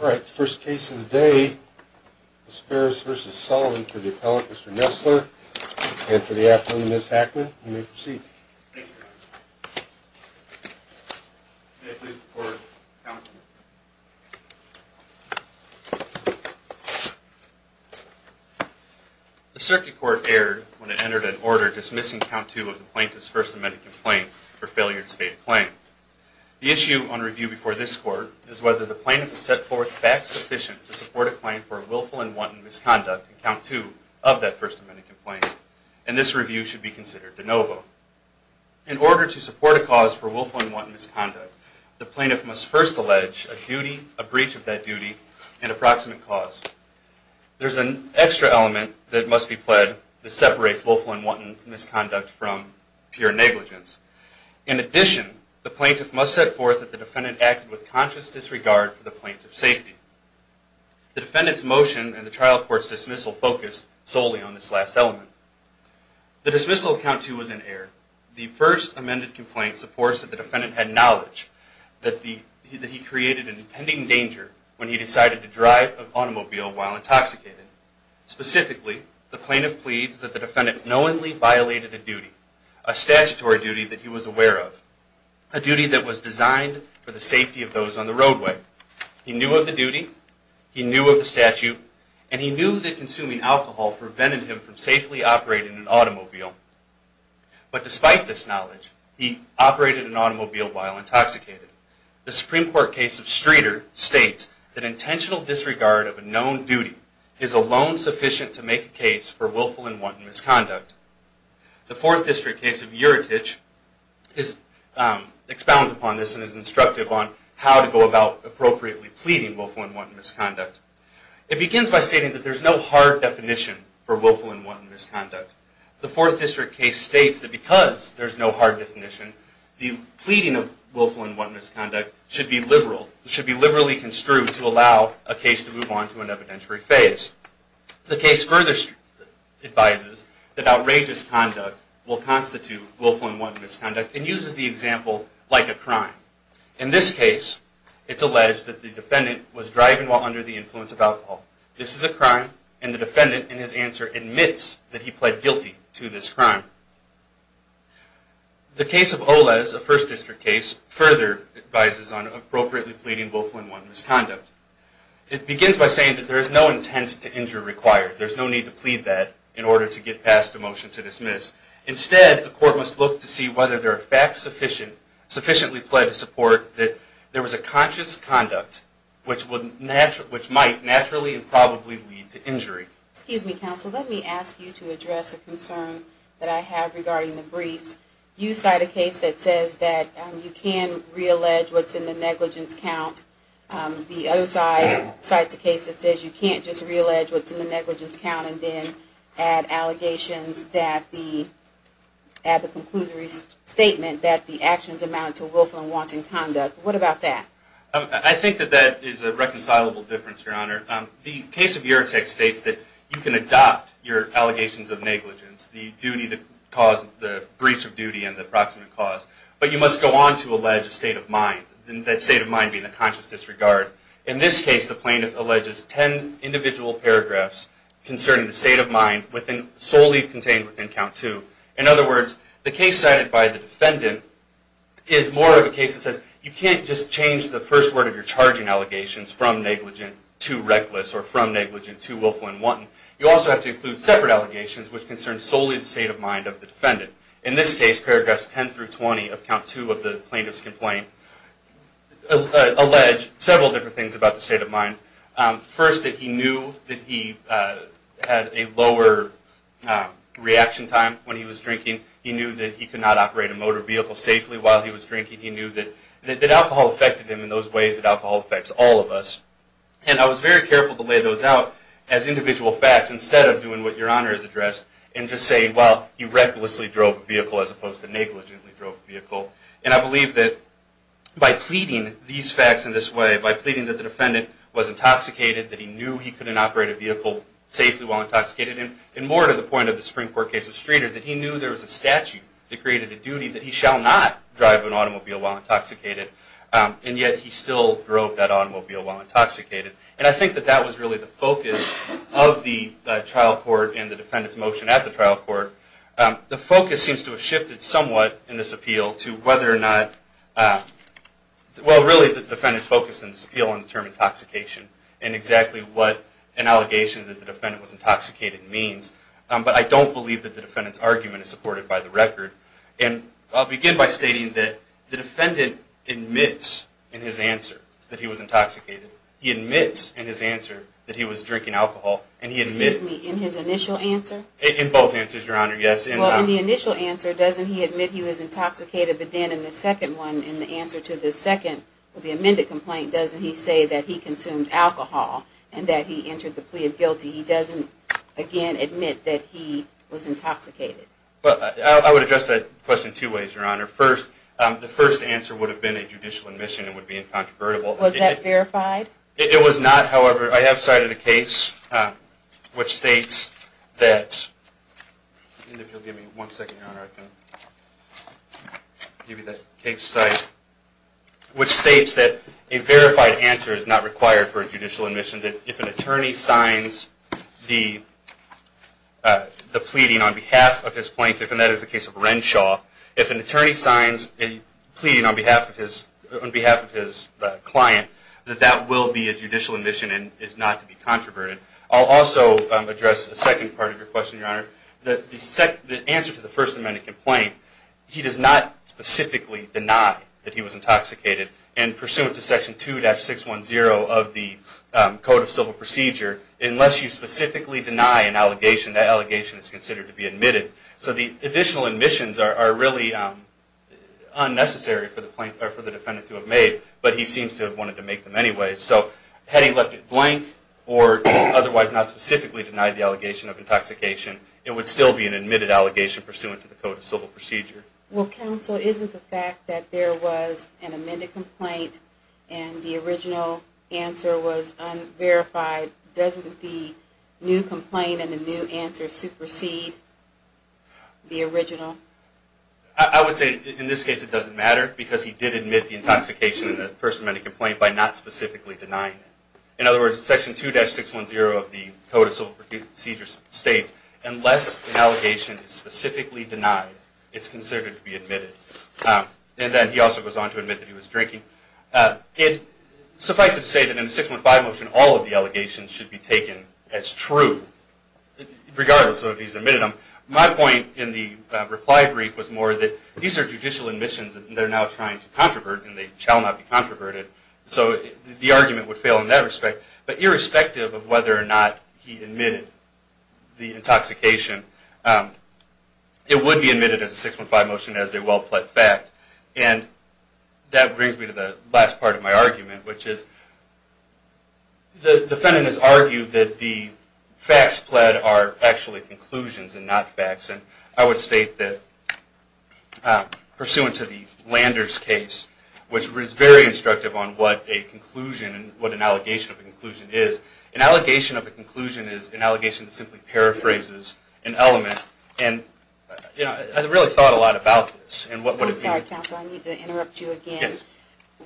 All right, the first case of the day is Farris v. Sullivan for the appellant, Mr. Nessler, and for the appellant, Ms. Hackman. You may proceed. Thank you, Your Honor. May I please have the Court count the minutes? The Circuit Court erred when it entered an order dismissing count two of the Plaintiff's First Amendment complaint for failure to state a claim. The issue on review before this Court is whether the Plaintiff has set forth facts sufficient to support a claim for a willful and wanton misconduct in count two of that First Amendment complaint, and this review should be considered de novo. In order to support a cause for willful and wanton misconduct, the Plaintiff must first allege a duty, a breach of that duty, and approximate cause. There is an extra element that must be pled that separates willful and wanton misconduct from pure negligence. In addition, the Plaintiff must set forth that the Defendant acted with conscious disregard for the Plaintiff's safety. The Defendant's motion and the trial court's dismissal focus solely on this last element. The dismissal of count two was in error. The First Amendment complaint supports that the Defendant had knowledge that he created an impending danger when he decided to drive an automobile while intoxicated. Specifically, the Plaintiff pleads that the Defendant knowingly violated a duty, a statutory duty that he was aware of, a duty that was designed for the safety of those on the roadway. He knew of the duty, he knew of the statute, and he knew that consuming alcohol prevented him from safely operating an automobile. But despite this knowledge, he operated an automobile while intoxicated. The Supreme Court case of Streeter states that intentional disregard of a known duty is alone sufficient to make a case for willful and wanton misconduct. The Fourth District case of Uritage expounds upon this and is instructive on how to go about appropriately pleading willful and wanton misconduct. It begins by stating that there is no hard definition for willful and wanton misconduct. The Fourth District case states that because there is no hard definition, the pleading of willful and wanton misconduct should be liberally construed to allow a case to move on to an evidentiary phase. The case further advises that outrageous conduct will constitute willful and wanton misconduct and uses the example like a crime. In this case, it's alleged that the Defendant was driving while under the influence of alcohol. This is a crime, and the Defendant in his answer admits that he pled guilty to this crime. The case of Oles, a First District case, further advises on appropriately pleading willful and wanton misconduct. It begins by saying that there is no intent to injure required. There's no need to plead that in order to get past a motion to dismiss. Instead, a court must look to see whether there are facts sufficiently pled to support that there was a conscious conduct which might naturally and probably lead to injury. Excuse me, counsel. Let me ask you to address a concern that I have regarding the briefs. You cite a case that says that you can reallege what's in the negligence count. The other side cites a case that says you can't just reallege what's in the negligence count and then add allegations that the, add the conclusory statement that the actions amount to willful and wanton conduct. What about that? I think that that is a reconcilable difference, Your Honor. The case of Uretech states that you can adopt your allegations of negligence, the duty that caused the breach of duty and the proximate cause, but you must go on to allege a state of mind, that state of mind being a conscious disregard. In this case, the plaintiff alleges ten individual paragraphs concerning the state of mind solely contained within count two. In other words, the case cited by the defendant is more of a case that says you can't just change the first word of your charging allegations from negligent to reckless or from negligent to willful and wanton. You also have to include separate allegations which concern solely the state of mind of the defendant. In this case, paragraphs ten through twenty of count two of the plaintiff's complaint allege several different things about the state of mind. First, that he knew that he had a lower reaction time when he was drinking. He knew that he could not operate a motor vehicle safely while he was drinking. He knew that alcohol affected him in those ways that alcohol affects all of us. And I was very careful to lay those out as individual facts instead of doing what Your Honor has addressed and just say, well, he recklessly drove a vehicle as opposed to negligently drove a vehicle. And I believe that by pleading these facts in this way, by pleading that the defendant was intoxicated, that he knew he couldn't operate a vehicle safely while intoxicated, and more to the point of the Supreme Court case of Streeter, that he knew there was a statute that created a duty that he shall not drive an automobile while intoxicated, and yet he still drove that automobile while intoxicated. And I think that that was really the focus of the trial court and the defendant's motion at the trial court. The focus seems to have shifted somewhat in this appeal to whether or not, well, really the defendant focused in this appeal on the term intoxication and exactly what an allegation that the defendant was intoxicated means. But I don't believe that the defendant's argument is supported by the record. And I'll begin by stating that the defendant admits in his answer that he was intoxicated. He admits in his answer that he was drinking alcohol. Excuse me, in his initial answer? In both answers, Your Honor, yes. Well, in the initial answer, doesn't he admit he was intoxicated? But then in the second one, in the answer to the second, the amended complaint, doesn't he say that he consumed alcohol and that he entered the plea of guilty? He doesn't, again, admit that he was intoxicated. Well, I would address that question two ways, Your Honor. First, the first answer would have been a judicial admission and would be incontrovertible. Was that verified? It was not. However, I have cited a case which states that a verified answer is not required for a judicial admission. If an attorney signs the pleading on behalf of his plaintiff, and that is the case of Renshaw, if an attorney signs a pleading on behalf of his client, that that will be a judicial admission and is not to be controverted. I'll also address the second part of your question, Your Honor. The answer to the First Amendment complaint, he does not specifically deny that he was intoxicated. And pursuant to Section 2-610 of the Code of Civil Procedure, unless you specifically deny an allegation, that allegation is considered to be admitted. So the additional admissions are really unnecessary for the defendant to have made, but he seems to have wanted to make them anyway. So had he left it blank or otherwise not specifically denied the allegation of intoxication, it would still be an admitted allegation pursuant to the Code of Civil Procedure. Well, counsel, isn't the fact that there was an amended complaint and the original answer was unverified, doesn't the new complaint and the new answer supersede the original? I would say in this case it doesn't matter because he did admit the intoxication in the First Amendment complaint by not specifically denying it. In other words, Section 2-610 of the Code of Civil Procedure states, unless an allegation is specifically denied, it's considered to be admitted. And then he also goes on to admit that he was drinking. Suffice it to say that in the 615 motion, all of the allegations should be taken as true, regardless of if he's admitted them. My point in the reply brief was more that these are judicial admissions and they're now trying to controvert and they shall not be controverted. So the argument would fail in that respect. But irrespective of whether or not he admitted the intoxication, it would be admitted as a 615 motion as a well-pled fact. And that brings me to the last part of my argument, which is the defendant has argued that the facts pled are actually conclusions and not facts. And I would state that pursuant to the Landers case, which is very instructive on what a conclusion and what an allegation of a conclusion is, an allegation of a conclusion is an allegation that simply paraphrases an element. And I really thought a lot about this and what would it mean. I'm sorry, counsel, I need to interrupt you again. Yes.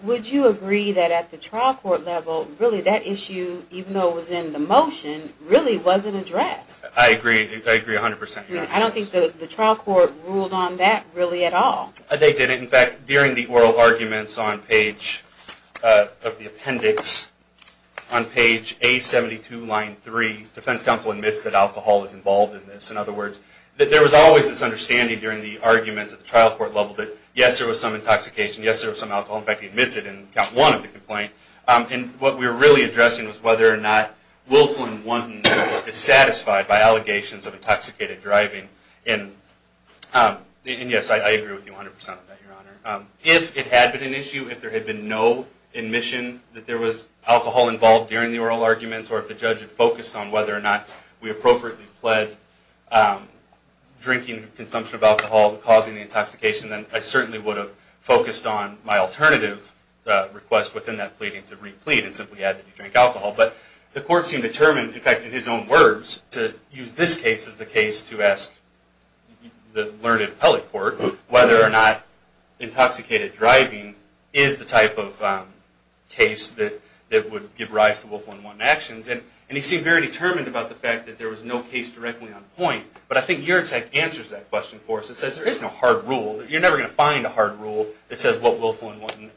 Would you agree that at the trial court level, really that issue, even though it was in the motion, really wasn't addressed? I agree. I agree 100%. I don't think the trial court ruled on that really at all. They didn't. In fact, during the oral arguments on page of the appendix, on page A72, line 3, defense counsel admits that alcohol is involved in this. In other words, there was always this understanding during the arguments at the trial court level that, yes, there was some intoxication, yes, there was some alcohol. In fact, he admits it in count one of the complaint. And what we were really addressing was whether or not Wilflin 1 is satisfied by allegations of intoxicated driving. And yes, I agree with you 100% on that, Your Honor. If it had been an issue, if there had been no admission that there was alcohol involved during the oral arguments or if the judge had focused on whether or not we appropriately pled drinking consumption of alcohol causing the intoxication, then I certainly would have focused on my alternative request within that pleading to re-plead and simply add that you drank alcohol. But the court seemed determined, in fact, in his own words, to use this case as the case to ask the learned appellate court whether or not intoxicated driving is the type of case that would give rise to Wilflin 1 actions. And he seemed very determined about the fact that there was no case directly on point. But I think your attack answers that question for us. It says there is no hard rule. You're never going to find a hard rule that says what Wilflin 1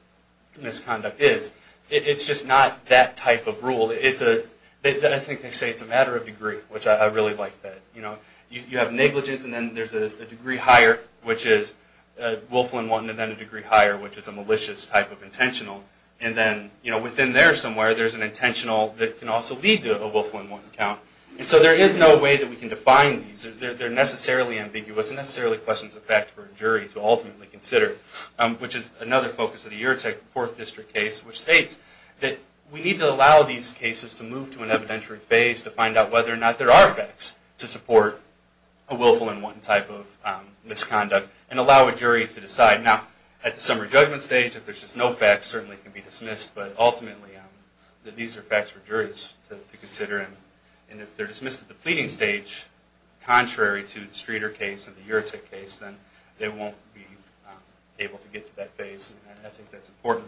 misconduct is. It's just not that type of rule. I think they say it's a matter of degree, which I really like that. You have negligence, and then there's a degree higher, which is Wilflin 1, and then a degree higher, which is a malicious type of intentional. And then within there somewhere, there's an intentional that can also lead to a Wilflin 1 count. And so there is no way that we can define these. They're necessarily ambiguous. It necessarily questions the fact for a jury to ultimately consider, which is another focus of the Eurotech Fourth District case, which states that we need to allow these cases to move to an evidentiary phase to find out whether or not there are facts to support a Wilflin 1 type of misconduct and allow a jury to decide. Now, at the summary judgment stage, if there's just no facts, certainly it can be dismissed. And if they're dismissed at the pleading stage, contrary to the Streeter case and the Eurotech case, then they won't be able to get to that phase, and I think that's important.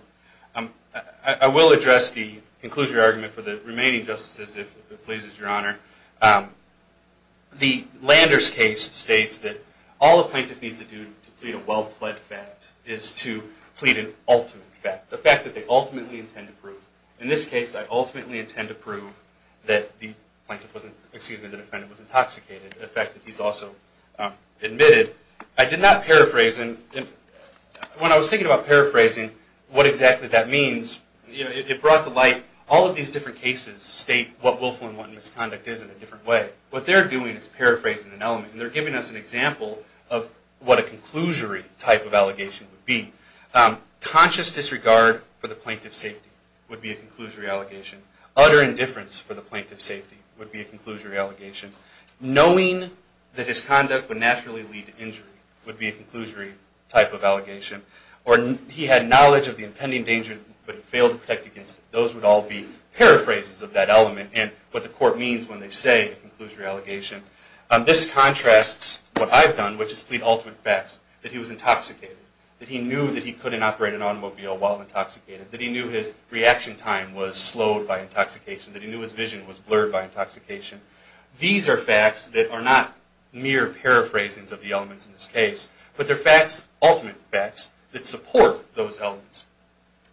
I will address the conclusion argument for the remaining justices, if it pleases Your Honor. The Landers case states that all a plaintiff needs to do to plead a well-pled fact is to plead an ultimate fact, the fact that they ultimately intend to prove. That the defendant was intoxicated, the fact that he's also admitted. I did not paraphrase, and when I was thinking about paraphrasing what exactly that means, it brought to light all of these different cases state what Wilflin 1 misconduct is in a different way. What they're doing is paraphrasing an element, and they're giving us an example of what a conclusory type of allegation would be. Conscious disregard for the plaintiff's safety would be a conclusory allegation. Utter indifference for the plaintiff's safety would be a conclusory allegation. Knowing that his conduct would naturally lead to injury would be a conclusory type of allegation. Or he had knowledge of the impending danger, but failed to protect against it. Those would all be paraphrases of that element and what the court means when they say a conclusory allegation. This contrasts what I've done, which is plead ultimate facts, that he was intoxicated, that he knew that he couldn't operate an automobile while intoxicated, that he knew his reaction time was slowed by intoxication, that he knew his vision was blurred by intoxication. These are facts that are not mere paraphrasings of the elements in this case, but they're facts, ultimate facts, that support those elements.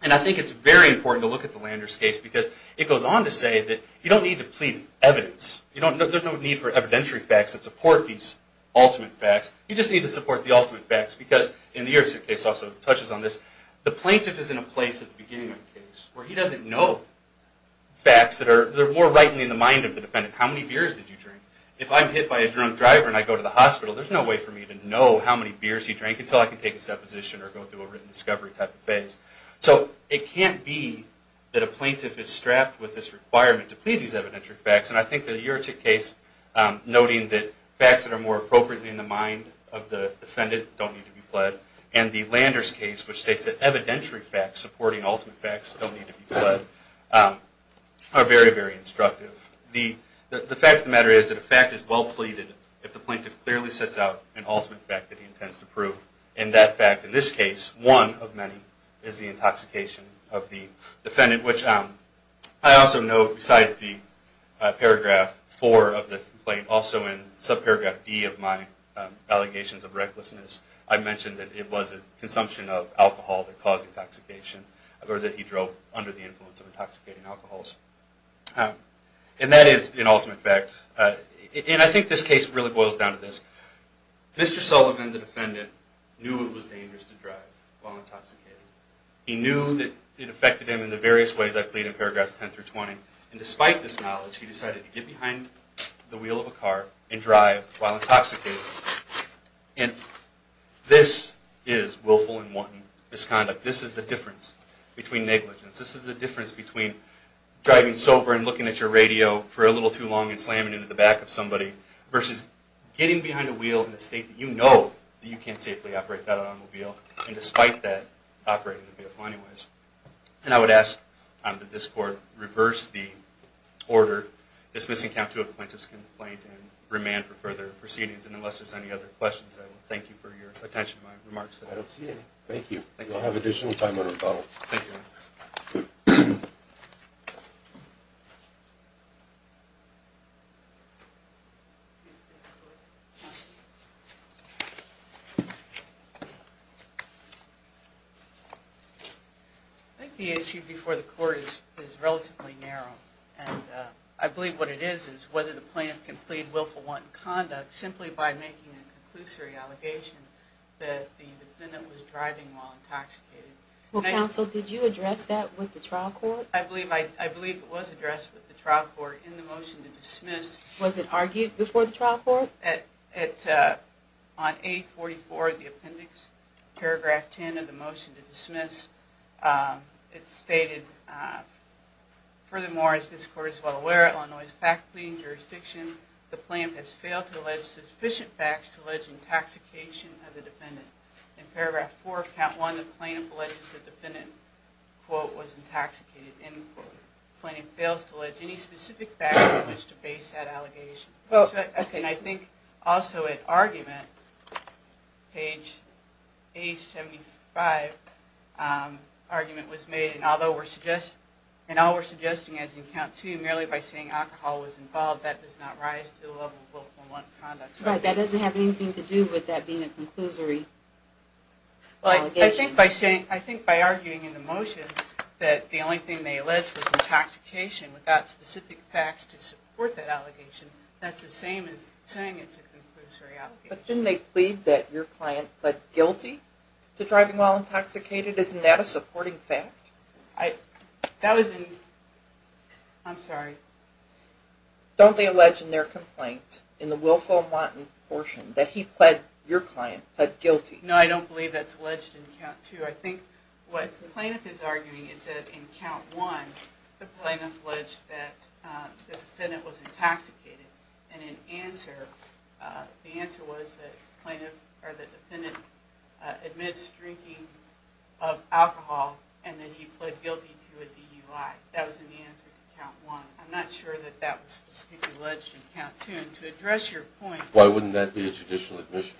And I think it's very important to look at the Landers case because it goes on to say that you don't need to plead evidence. There's no need for evidentiary facts that support these ultimate facts. You just need to support the ultimate facts because, and the Erickson case also touches on this, the plaintiff is in a place at the beginning of the case where he doesn't know facts that are more rightly in the mind of the defendant. How many beers did you drink? If I'm hit by a drunk driver and I go to the hospital, there's no way for me to know how many beers he drank until I can take his deposition or go through a written discovery type of phase. So it can't be that a plaintiff is strapped with this requirement to plead these evidentiary facts, and I think the Uretic case noting that facts that are more appropriately in the mind of the defendant don't need to be pled. And the Landers case, which states that evidentiary facts supporting ultimate facts don't need to be pled, are very, very instructive. The fact of the matter is that a fact is well pleaded if the plaintiff clearly sets out an ultimate fact that he intends to prove. And that fact, in this case, one of many, is the intoxication of the defendant, which I also note besides the paragraph 4 of the complaint, and also in subparagraph D of my allegations of recklessness, I mentioned that it was a consumption of alcohol that caused intoxication, or that he drove under the influence of intoxicating alcohols. And that is an ultimate fact. And I think this case really boils down to this. Mr. Sullivan, the defendant, knew it was dangerous to drive while intoxicated. He knew that it affected him in the various ways I've pleaded in paragraphs 10 through 20, and despite this knowledge, he decided to get behind the wheel of a car and drive while intoxicated. And this is willful and wanton misconduct. This is the difference between negligence. This is the difference between driving sober and looking at your radio for a little too long and slamming into the back of somebody, versus getting behind a wheel in a state that you know that you can't safely operate that automobile, and despite that, operating the vehicle anyways. And I would ask that this Court reverse the order dismissing count two of plaintiff's complaint and remand for further proceedings. And unless there's any other questions, I will thank you for your attention to my remarks. I don't see any. Thank you. You'll have additional time in rebuttal. I think the issue before the Court is relatively narrow, and I believe what it is is whether the plaintiff can plead willful wanton conduct simply by making a conclusory allegation that the defendant was driving while intoxicated. Well, counsel, did you address that with the trial court? I believe it was addressed with the trial court in the motion to dismiss. Was it argued before the trial court? On 844 of the appendix, paragraph 10 of the motion to dismiss, it stated, furthermore, as this Court is well aware, Illinois is a fact-leading jurisdiction. The plaintiff has failed to allege sufficient facts to allege intoxication of the defendant. In paragraph four of count one, the plaintiff alleges the defendant, quote, was intoxicated, end quote. The plaintiff fails to allege any specific facts in which to base that allegation. And I think also in argument, page 75, argument was made, and although we're suggesting as in count two, merely by saying alcohol was involved, that does not rise to the level of willful wanton conduct. That doesn't have anything to do with that being a conclusory allegation. I think by arguing in the motion that the only thing they alleged was intoxication without specific facts to support that allegation, that's the same as saying it's a conclusory allegation. But didn't they plead that your client pled guilty to driving while intoxicated? Isn't that a supporting fact? I, that was in, I'm sorry. Don't they allege in their complaint, in the willful wanton portion, that he pled, your client, pled guilty? No, I don't believe that's alleged in count two. I think what the plaintiff is arguing is that in count one, the plaintiff alleged that the defendant was intoxicated. And in answer, the answer was that the defendant admits drinking of alcohol and that he pled guilty to a DUI. That was in the answer to count one. I'm not sure that that was specifically alleged in count two. And to address your point. Why wouldn't that be a judicial admission?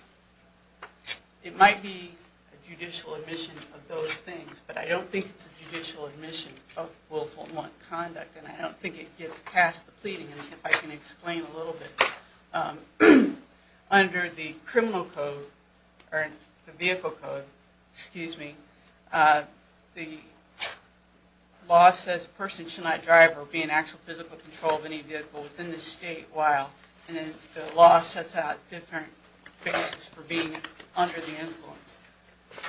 It might be a judicial admission of those things. But I don't think it's a judicial admission of willful wanton conduct. And I don't think it gets past the pleading. And if I can explain a little bit. Under the criminal code, or the vehicle code, excuse me, the law says a person should not drive or be in actual physical control of any vehicle within the state while. And the law sets out different things for being under the influence.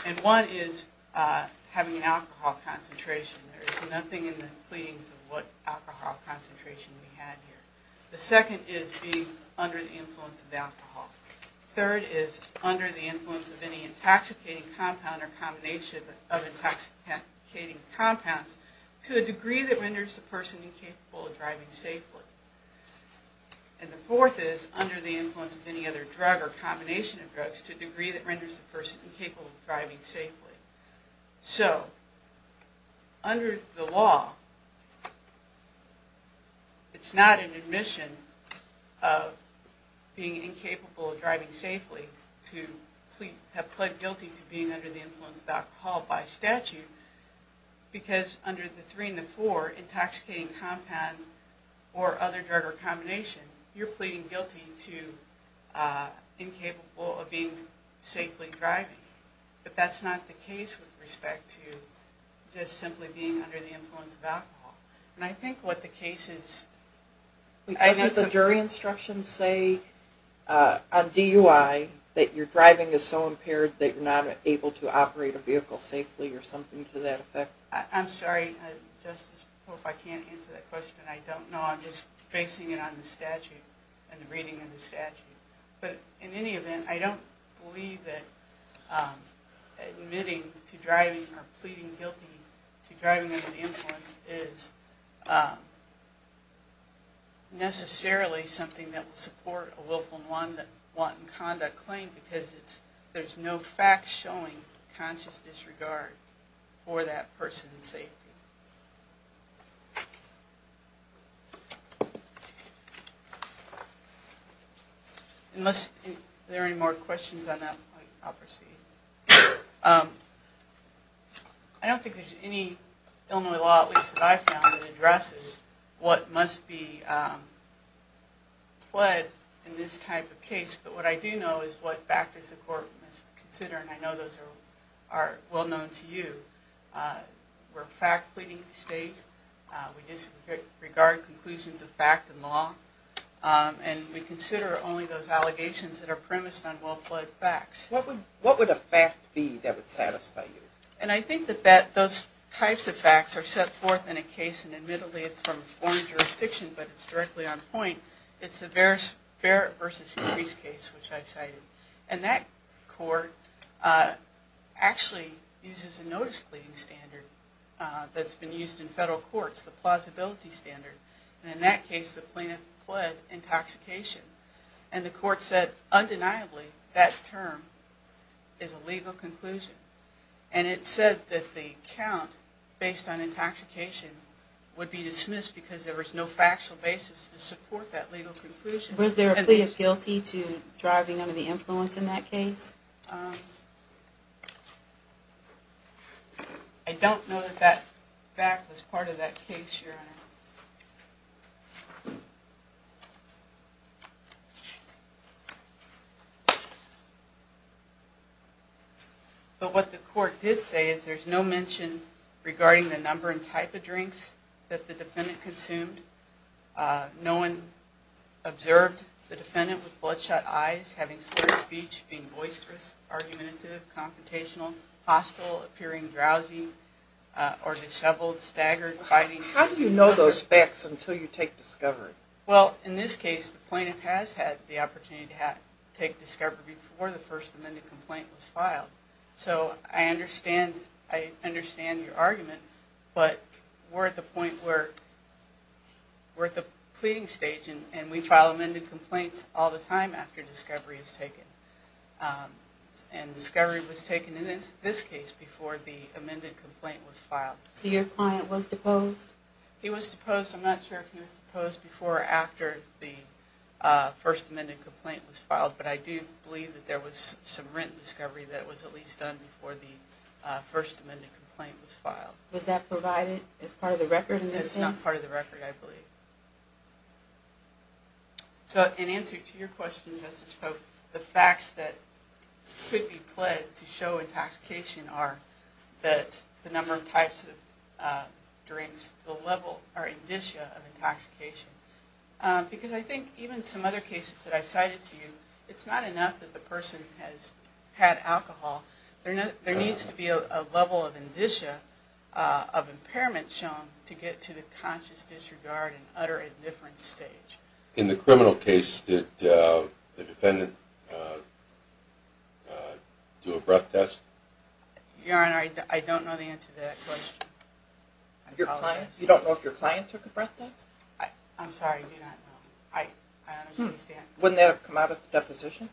And one is having an alcohol concentration. There's nothing in the pleadings of what alcohol concentration we have here. The second is being under the influence of alcohol. Third is under the influence of any intoxicating compound or combination of intoxicating compounds to a degree that renders the person incapable of driving safely. And the fourth is under the influence of any other drug or combination of drugs to a degree that renders the person incapable of driving safely. So, under the law, it's not an admission of being incapable of driving safely to have pled guilty to being under the influence of alcohol by statute. Because under the three and the four, intoxicating compound or other drug or combination, you're pleading guilty to incapable of being safely driving. But that's not the case with respect to just simply being under the influence of alcohol. And I think what the case is... Doesn't the jury instructions say on DUI that you're driving is so impaired that you're not able to operate a vehicle safely or something to that effect? I'm sorry, Justice, if I can't answer that question. I don't know. I'm just basing it on the reading of the statute. But in any event, I don't believe that admitting to driving or pleading guilty to driving under the influence is necessarily something that will support a willful and wanton conduct claim because there's no fact-showing conscious disregard for that person's safety. Unless there are any more questions on that point, I'll proceed. I don't think there's any Illinois law, at least that I've found, that addresses what must be pled in this type of case. But what I do know is what factors the court must consider. And I know those are well known to you. We're fact-pleading the state. We disregard conclusions of fact and law. And we consider only those allegations that are premised on well-pled facts. What would a fact be that would satisfy you? And I think that those types of facts are set forth in a case, and admittedly it's from a foreign jurisdiction, but it's directly on point. It's the Barrett v. Freese case, which I cited. And that court actually uses a notice-pleading standard that's been used in federal courts, the plausibility standard. And in that case, the plaintiff pled intoxication. And the court said, undeniably, that term is a legal conclusion. And it said that the count based on intoxication would be dismissed because there was no factual basis to support that legal conclusion. Was there a plea of guilty to driving under the influence in that case? I don't know that that fact was part of that case, Your Honor. But what the court did say is there's no mention regarding the number and type of drinks that the defendant consumed. No one observed the defendant with bloodshot eyes, having slurred speech, being boisterous, argumentative, confrontational, hostile, appearing drowsy or disheveled, staggered, fighting. How do you know those facts until you take discovery? Well, in this case, the plaintiff has had the opportunity to take discovery before the first amended complaint was filed. So I understand your argument, but we're at the point where we're at the pleading stage and we file amended complaints all the time after discovery is taken. And discovery was taken in this case before the amended complaint was filed. So your client was deposed? He was deposed. I'm not sure if he was deposed before or after the first amended complaint was filed. But I do believe that there was some rent discovery that was at least done before the first amended complaint was filed. Was that provided as part of the record in this case? It's not part of the record, I believe. So in answer to your question, Justice Pope, the facts that could be pledged to show intoxication are that the number of types of drinks, the level or indicia of intoxication. Because I think even some other cases that I've cited to you, it's not enough that the person has had alcohol. There needs to be a level of indicia of impairment shown to get to the conscious disregard and utter indifference stage. In the criminal case, did the defendant do a breath test? Your Honor, I don't know the answer to that question. You don't know if your client took a breath test? I'm sorry, I do not know. I don't understand. Wouldn't that have come out of the deposition?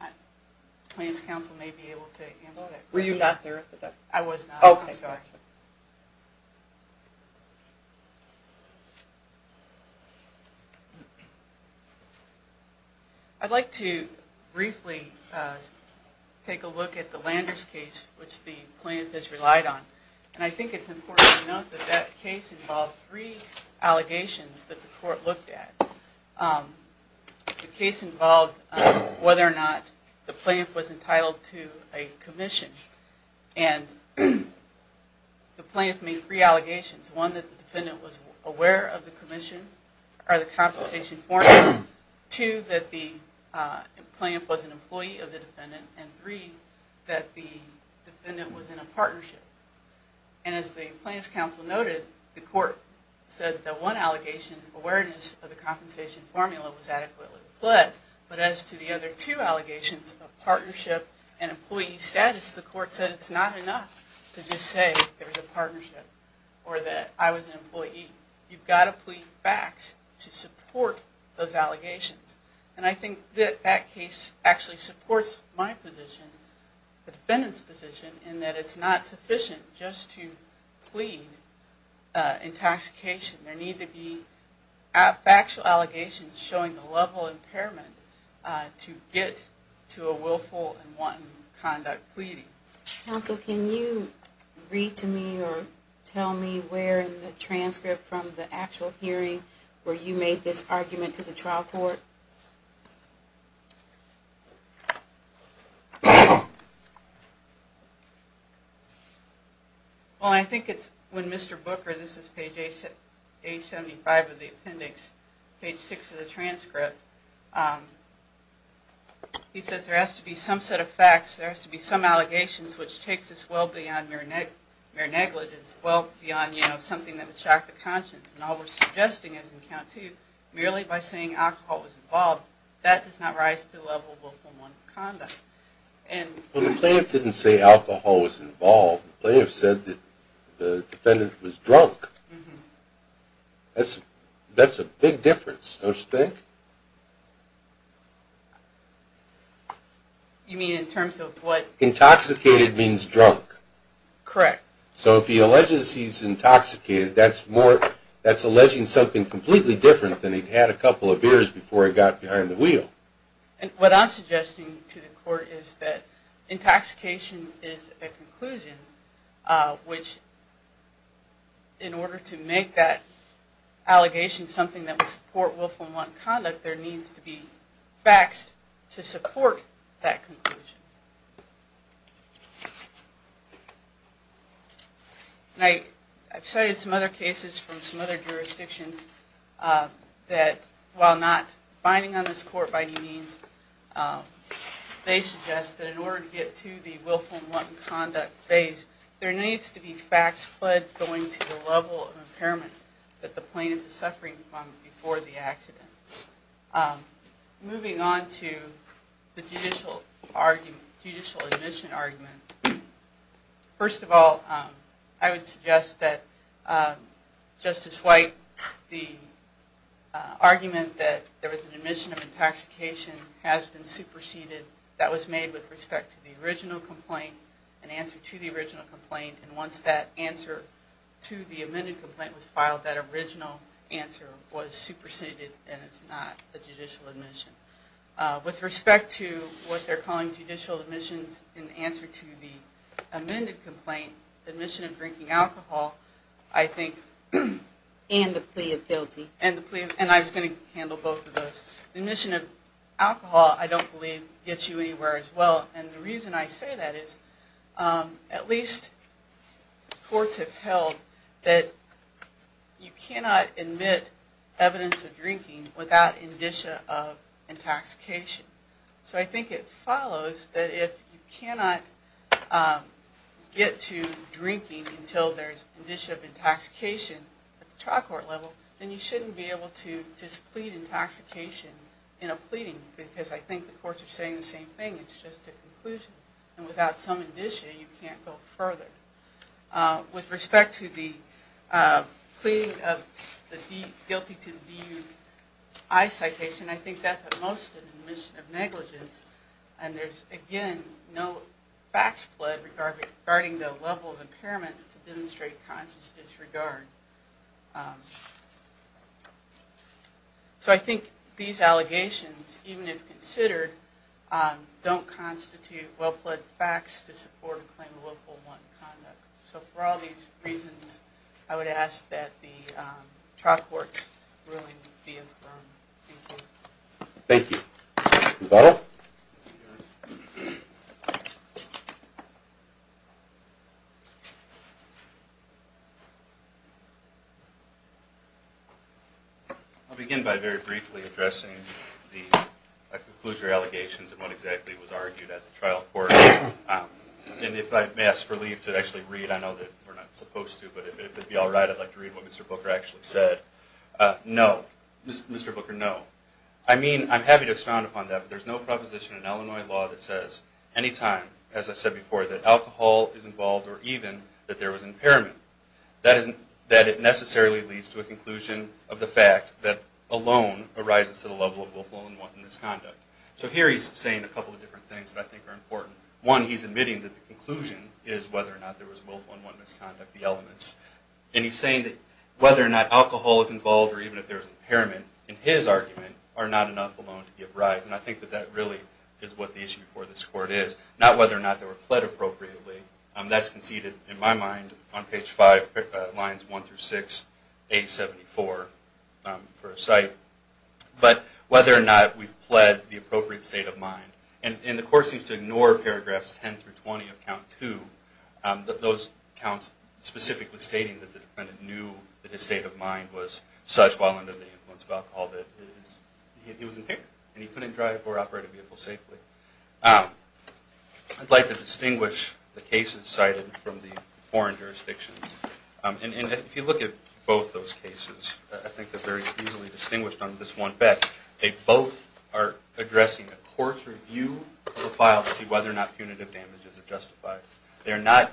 The plaintiff's counsel may be able to answer that question. Were you not there at the deposition? I was not. Okay, gotcha. I'd like to briefly take a look at the Landers case, which the plaintiff has relied on. And I think it's important to note that that case involved three allegations that the court looked at. The case involved whether or not the plaintiff was entitled to a commission. And the plaintiff made three allegations. One, that the defendant was aware of the commission or the compensation formula. Two, that the plaintiff was an employee of the defendant. And three, that the defendant was in a partnership. And as the plaintiff's counsel noted, the court said that one allegation, awareness of the compensation formula, was adequately deployed. But as to the other two allegations of partnership and employee status, the court said it's not enough to just say there's a partnership or that I was an employee. You've got to plead facts to support those allegations. And I think that that case actually supports my position, the defendant's position, in that it's not sufficient just to plead intoxication. There need to be factual allegations showing the level of impairment to get to a willful and wanton conduct pleading. Counsel, can you read to me or tell me where in the transcript from the actual hearing where you made this argument to the trial court? Well, I think it's when Mr. Booker, this is page 875 of the appendix, page 6 of the transcript, he says there has to be some set of facts, there has to be some allegations, which takes us well beyond mere negligence, well beyond, you know, something that would shock the conscience. And all we're suggesting is in count two, merely by saying alcohol was involved, that does not rise to the level of willful and wanton conduct. Well, the plaintiff didn't say alcohol was involved. The plaintiff said that the defendant was drunk. That's a big difference, don't you think? You mean in terms of what? Intoxicated means drunk. Correct. So if he alleges he's intoxicated, that's alleging something completely different than he had a couple of beers before he got behind the wheel. What I'm suggesting to the court is that intoxication is a conclusion, which in order to make that allegation something that would support willful and wanton conduct, there needs to be facts to support that conclusion. I've cited some other cases from some other jurisdictions that, while not binding on this court by any means, they suggest that in order to get to the willful and wanton conduct phase, there needs to be facts pled going to the level of impairment that the plaintiff is suffering from before the accident. Moving on to the judicial admission argument. First of all, I would suggest that Justice White, the argument that there was an admission of intoxication has been superseded. That was made with respect to the original complaint and answer to the original complaint. And once that answer to the amended complaint was filed, that original answer was superseded and it's not a judicial admission. With respect to what they're calling judicial admissions in answer to the amended complaint, the admission of drinking alcohol, I think... And the plea of guilty. And I was going to handle both of those. The admission of alcohol, I don't believe, gets you anywhere as well. And the reason I say that is, at least the courts have held that you cannot admit evidence of drinking without indicia of intoxication. So I think it follows that if you cannot get to drinking until there's indicia of intoxication at the trial court level, then you shouldn't be able to just plead intoxication in a pleading because I think the courts are saying the same thing. It's just a conclusion. And without some indicia, you can't go further. With respect to the pleading of the guilty to DUI citation, I think that's at most an admission of negligence. And there's, again, no fax flood regarding the level of impairment to demonstrate conscious disregard. So I think these allegations, even if considered, don't constitute well-fledged facts to support a claim of willful one conduct. So for all these reasons, I would ask that the trial courts really be affirmed. Thank you. Rebuttal. I'll begin by very briefly addressing the conclusions or allegations of what exactly was argued at the trial court. And if I may ask for leave to actually read, I know that we're not supposed to, but if it would be all right, I'd like to read what Mr. Booker actually said. No. Mr. Booker, no. I mean, I'm happy to expound upon that, but there's no proposition in Illinois law that says any time, as I said before, that alcohol is involved or even that there was impairment, that it necessarily leads to a conclusion of the fact that alone arises to the level of willful and unwanted misconduct. So here he's saying a couple of different things that I think are important. One, he's admitting that the conclusion is whether or not there was willful and unwanted misconduct, the elements. And he's saying that whether or not alcohol is involved or even if there was argument are not enough alone to give rise. And I think that that really is what the issue before this court is, not whether or not they were pled appropriately. That's conceded, in my mind, on page 5, lines 1 through 6, 874 for a cite. But whether or not we've pled the appropriate state of mind. And the court seems to ignore paragraphs 10 through 20 of count 2, while under the influence of alcohol, that he was impaired and he couldn't drive or operate a vehicle safely. I'd like to distinguish the cases cited from the foreign jurisdictions. And if you look at both those cases, I think they're very easily distinguished on this one bet. They both are addressing a court's review of the file to see whether or not punitive damage is justified. They're not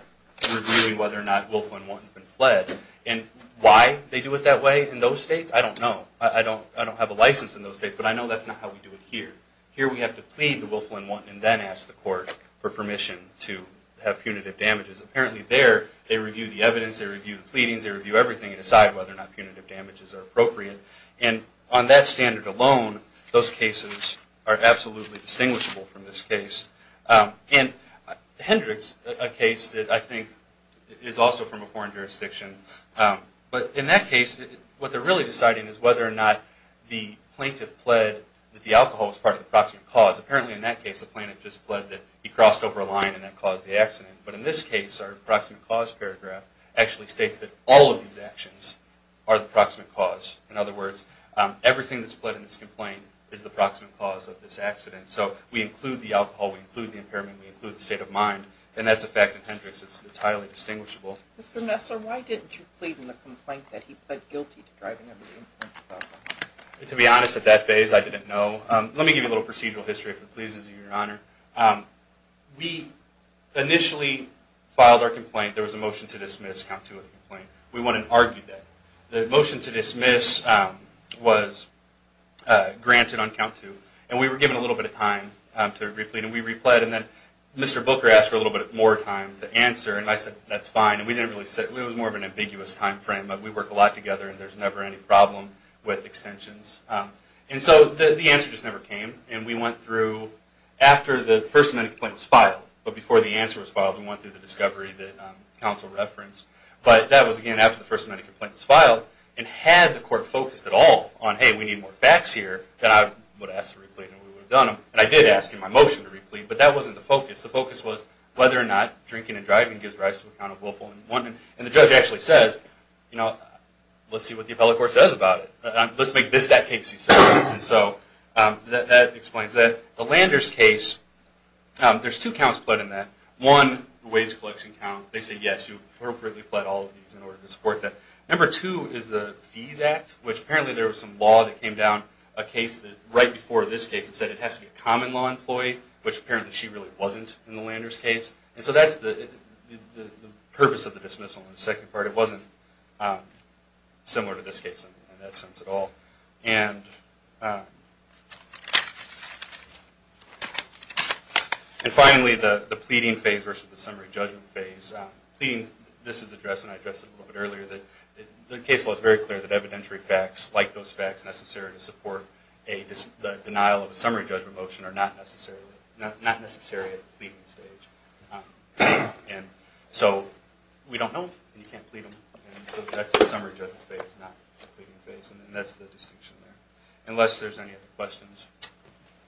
reviewing whether or not willful and unwanted has been pled. And why they do it that way in those states, I don't know. I don't have a license in those states, but I know that's not how we do it here. Here we have to plead the willful and unwanted, and then ask the court for permission to have punitive damages. Apparently there, they review the evidence, they review the pleadings, they review everything aside whether or not punitive damages are appropriate. And on that standard alone, those cases are absolutely distinguishable from this case. And Hendricks, a case that I think is also from a foreign jurisdiction, but in that case, what they're really deciding is whether or not the plaintiff pled that the alcohol was part of the proximate cause. Apparently in that case, the plaintiff just pled that he crossed over a line and that caused the accident. But in this case, our proximate cause paragraph actually states that all of these actions are the proximate cause. In other words, everything that's pled in this complaint is the proximate cause of this accident. So we include the alcohol, we include the impairment, we include the state of mind. And that's a fact in Hendricks that's highly distinguishable. Mr. Messer, why didn't you plead in the complaint that he pled guilty to driving under the influence of alcohol? To be honest, at that phase, I didn't know. Let me give you a little procedural history, if it pleases you, Your Honor. We initially filed our complaint. There was a motion to dismiss, count two of the complaint. We went and argued that. The motion to dismiss was granted on count two. And we were given a little bit of time to replete, and we repled. And then Mr. Booker asked for a little bit more time to answer. And I said, that's fine. It was more of an ambiguous time frame, but we work a lot together and there's never any problem with extensions. And so the answer just never came. And we went through, after the first amendment complaint was filed, but before the answer was filed, we went through the discovery that counsel referenced. But that was, again, after the first amendment complaint was filed. And had the court focused at all on, hey, we need more facts here, then I would have asked to replete and we would have done them. And I did ask him my motion to replete, but that wasn't the focus. The focus was whether or not drinking and driving gives rise to a count of willful and wanton. And the judge actually says, you know, let's see what the appellate court says about it. Let's make this that case he says. And so that explains that. The Landers case, there's two counts pled in that. One, the wage collection count. They say, yes, you appropriately pled all of these in order to support that. Number two is the Fees Act, which apparently there was some law that came down, a case that right before this case, it said it has to be a common law employee, which apparently she really wasn't in the Landers case. And so that's the purpose of the dismissal in the second part. It wasn't similar to this case in that sense at all. And finally, the pleading phase versus the summary judgment phase. This is addressed, and I addressed it a little bit earlier. The case law is very clear that evidentiary facts, like those facts necessary to support the denial of a summary judgment motion, are not necessary at the pleading stage. And so we don't know, and you can't plead them. And so that's the summary judgment phase, not the pleading phase, and that's the distinction there. Unless there's any other questions.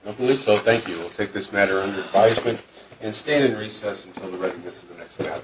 I believe so. Thank you. I will take this matter under advisement and stand in recess until the record gets to the next panel.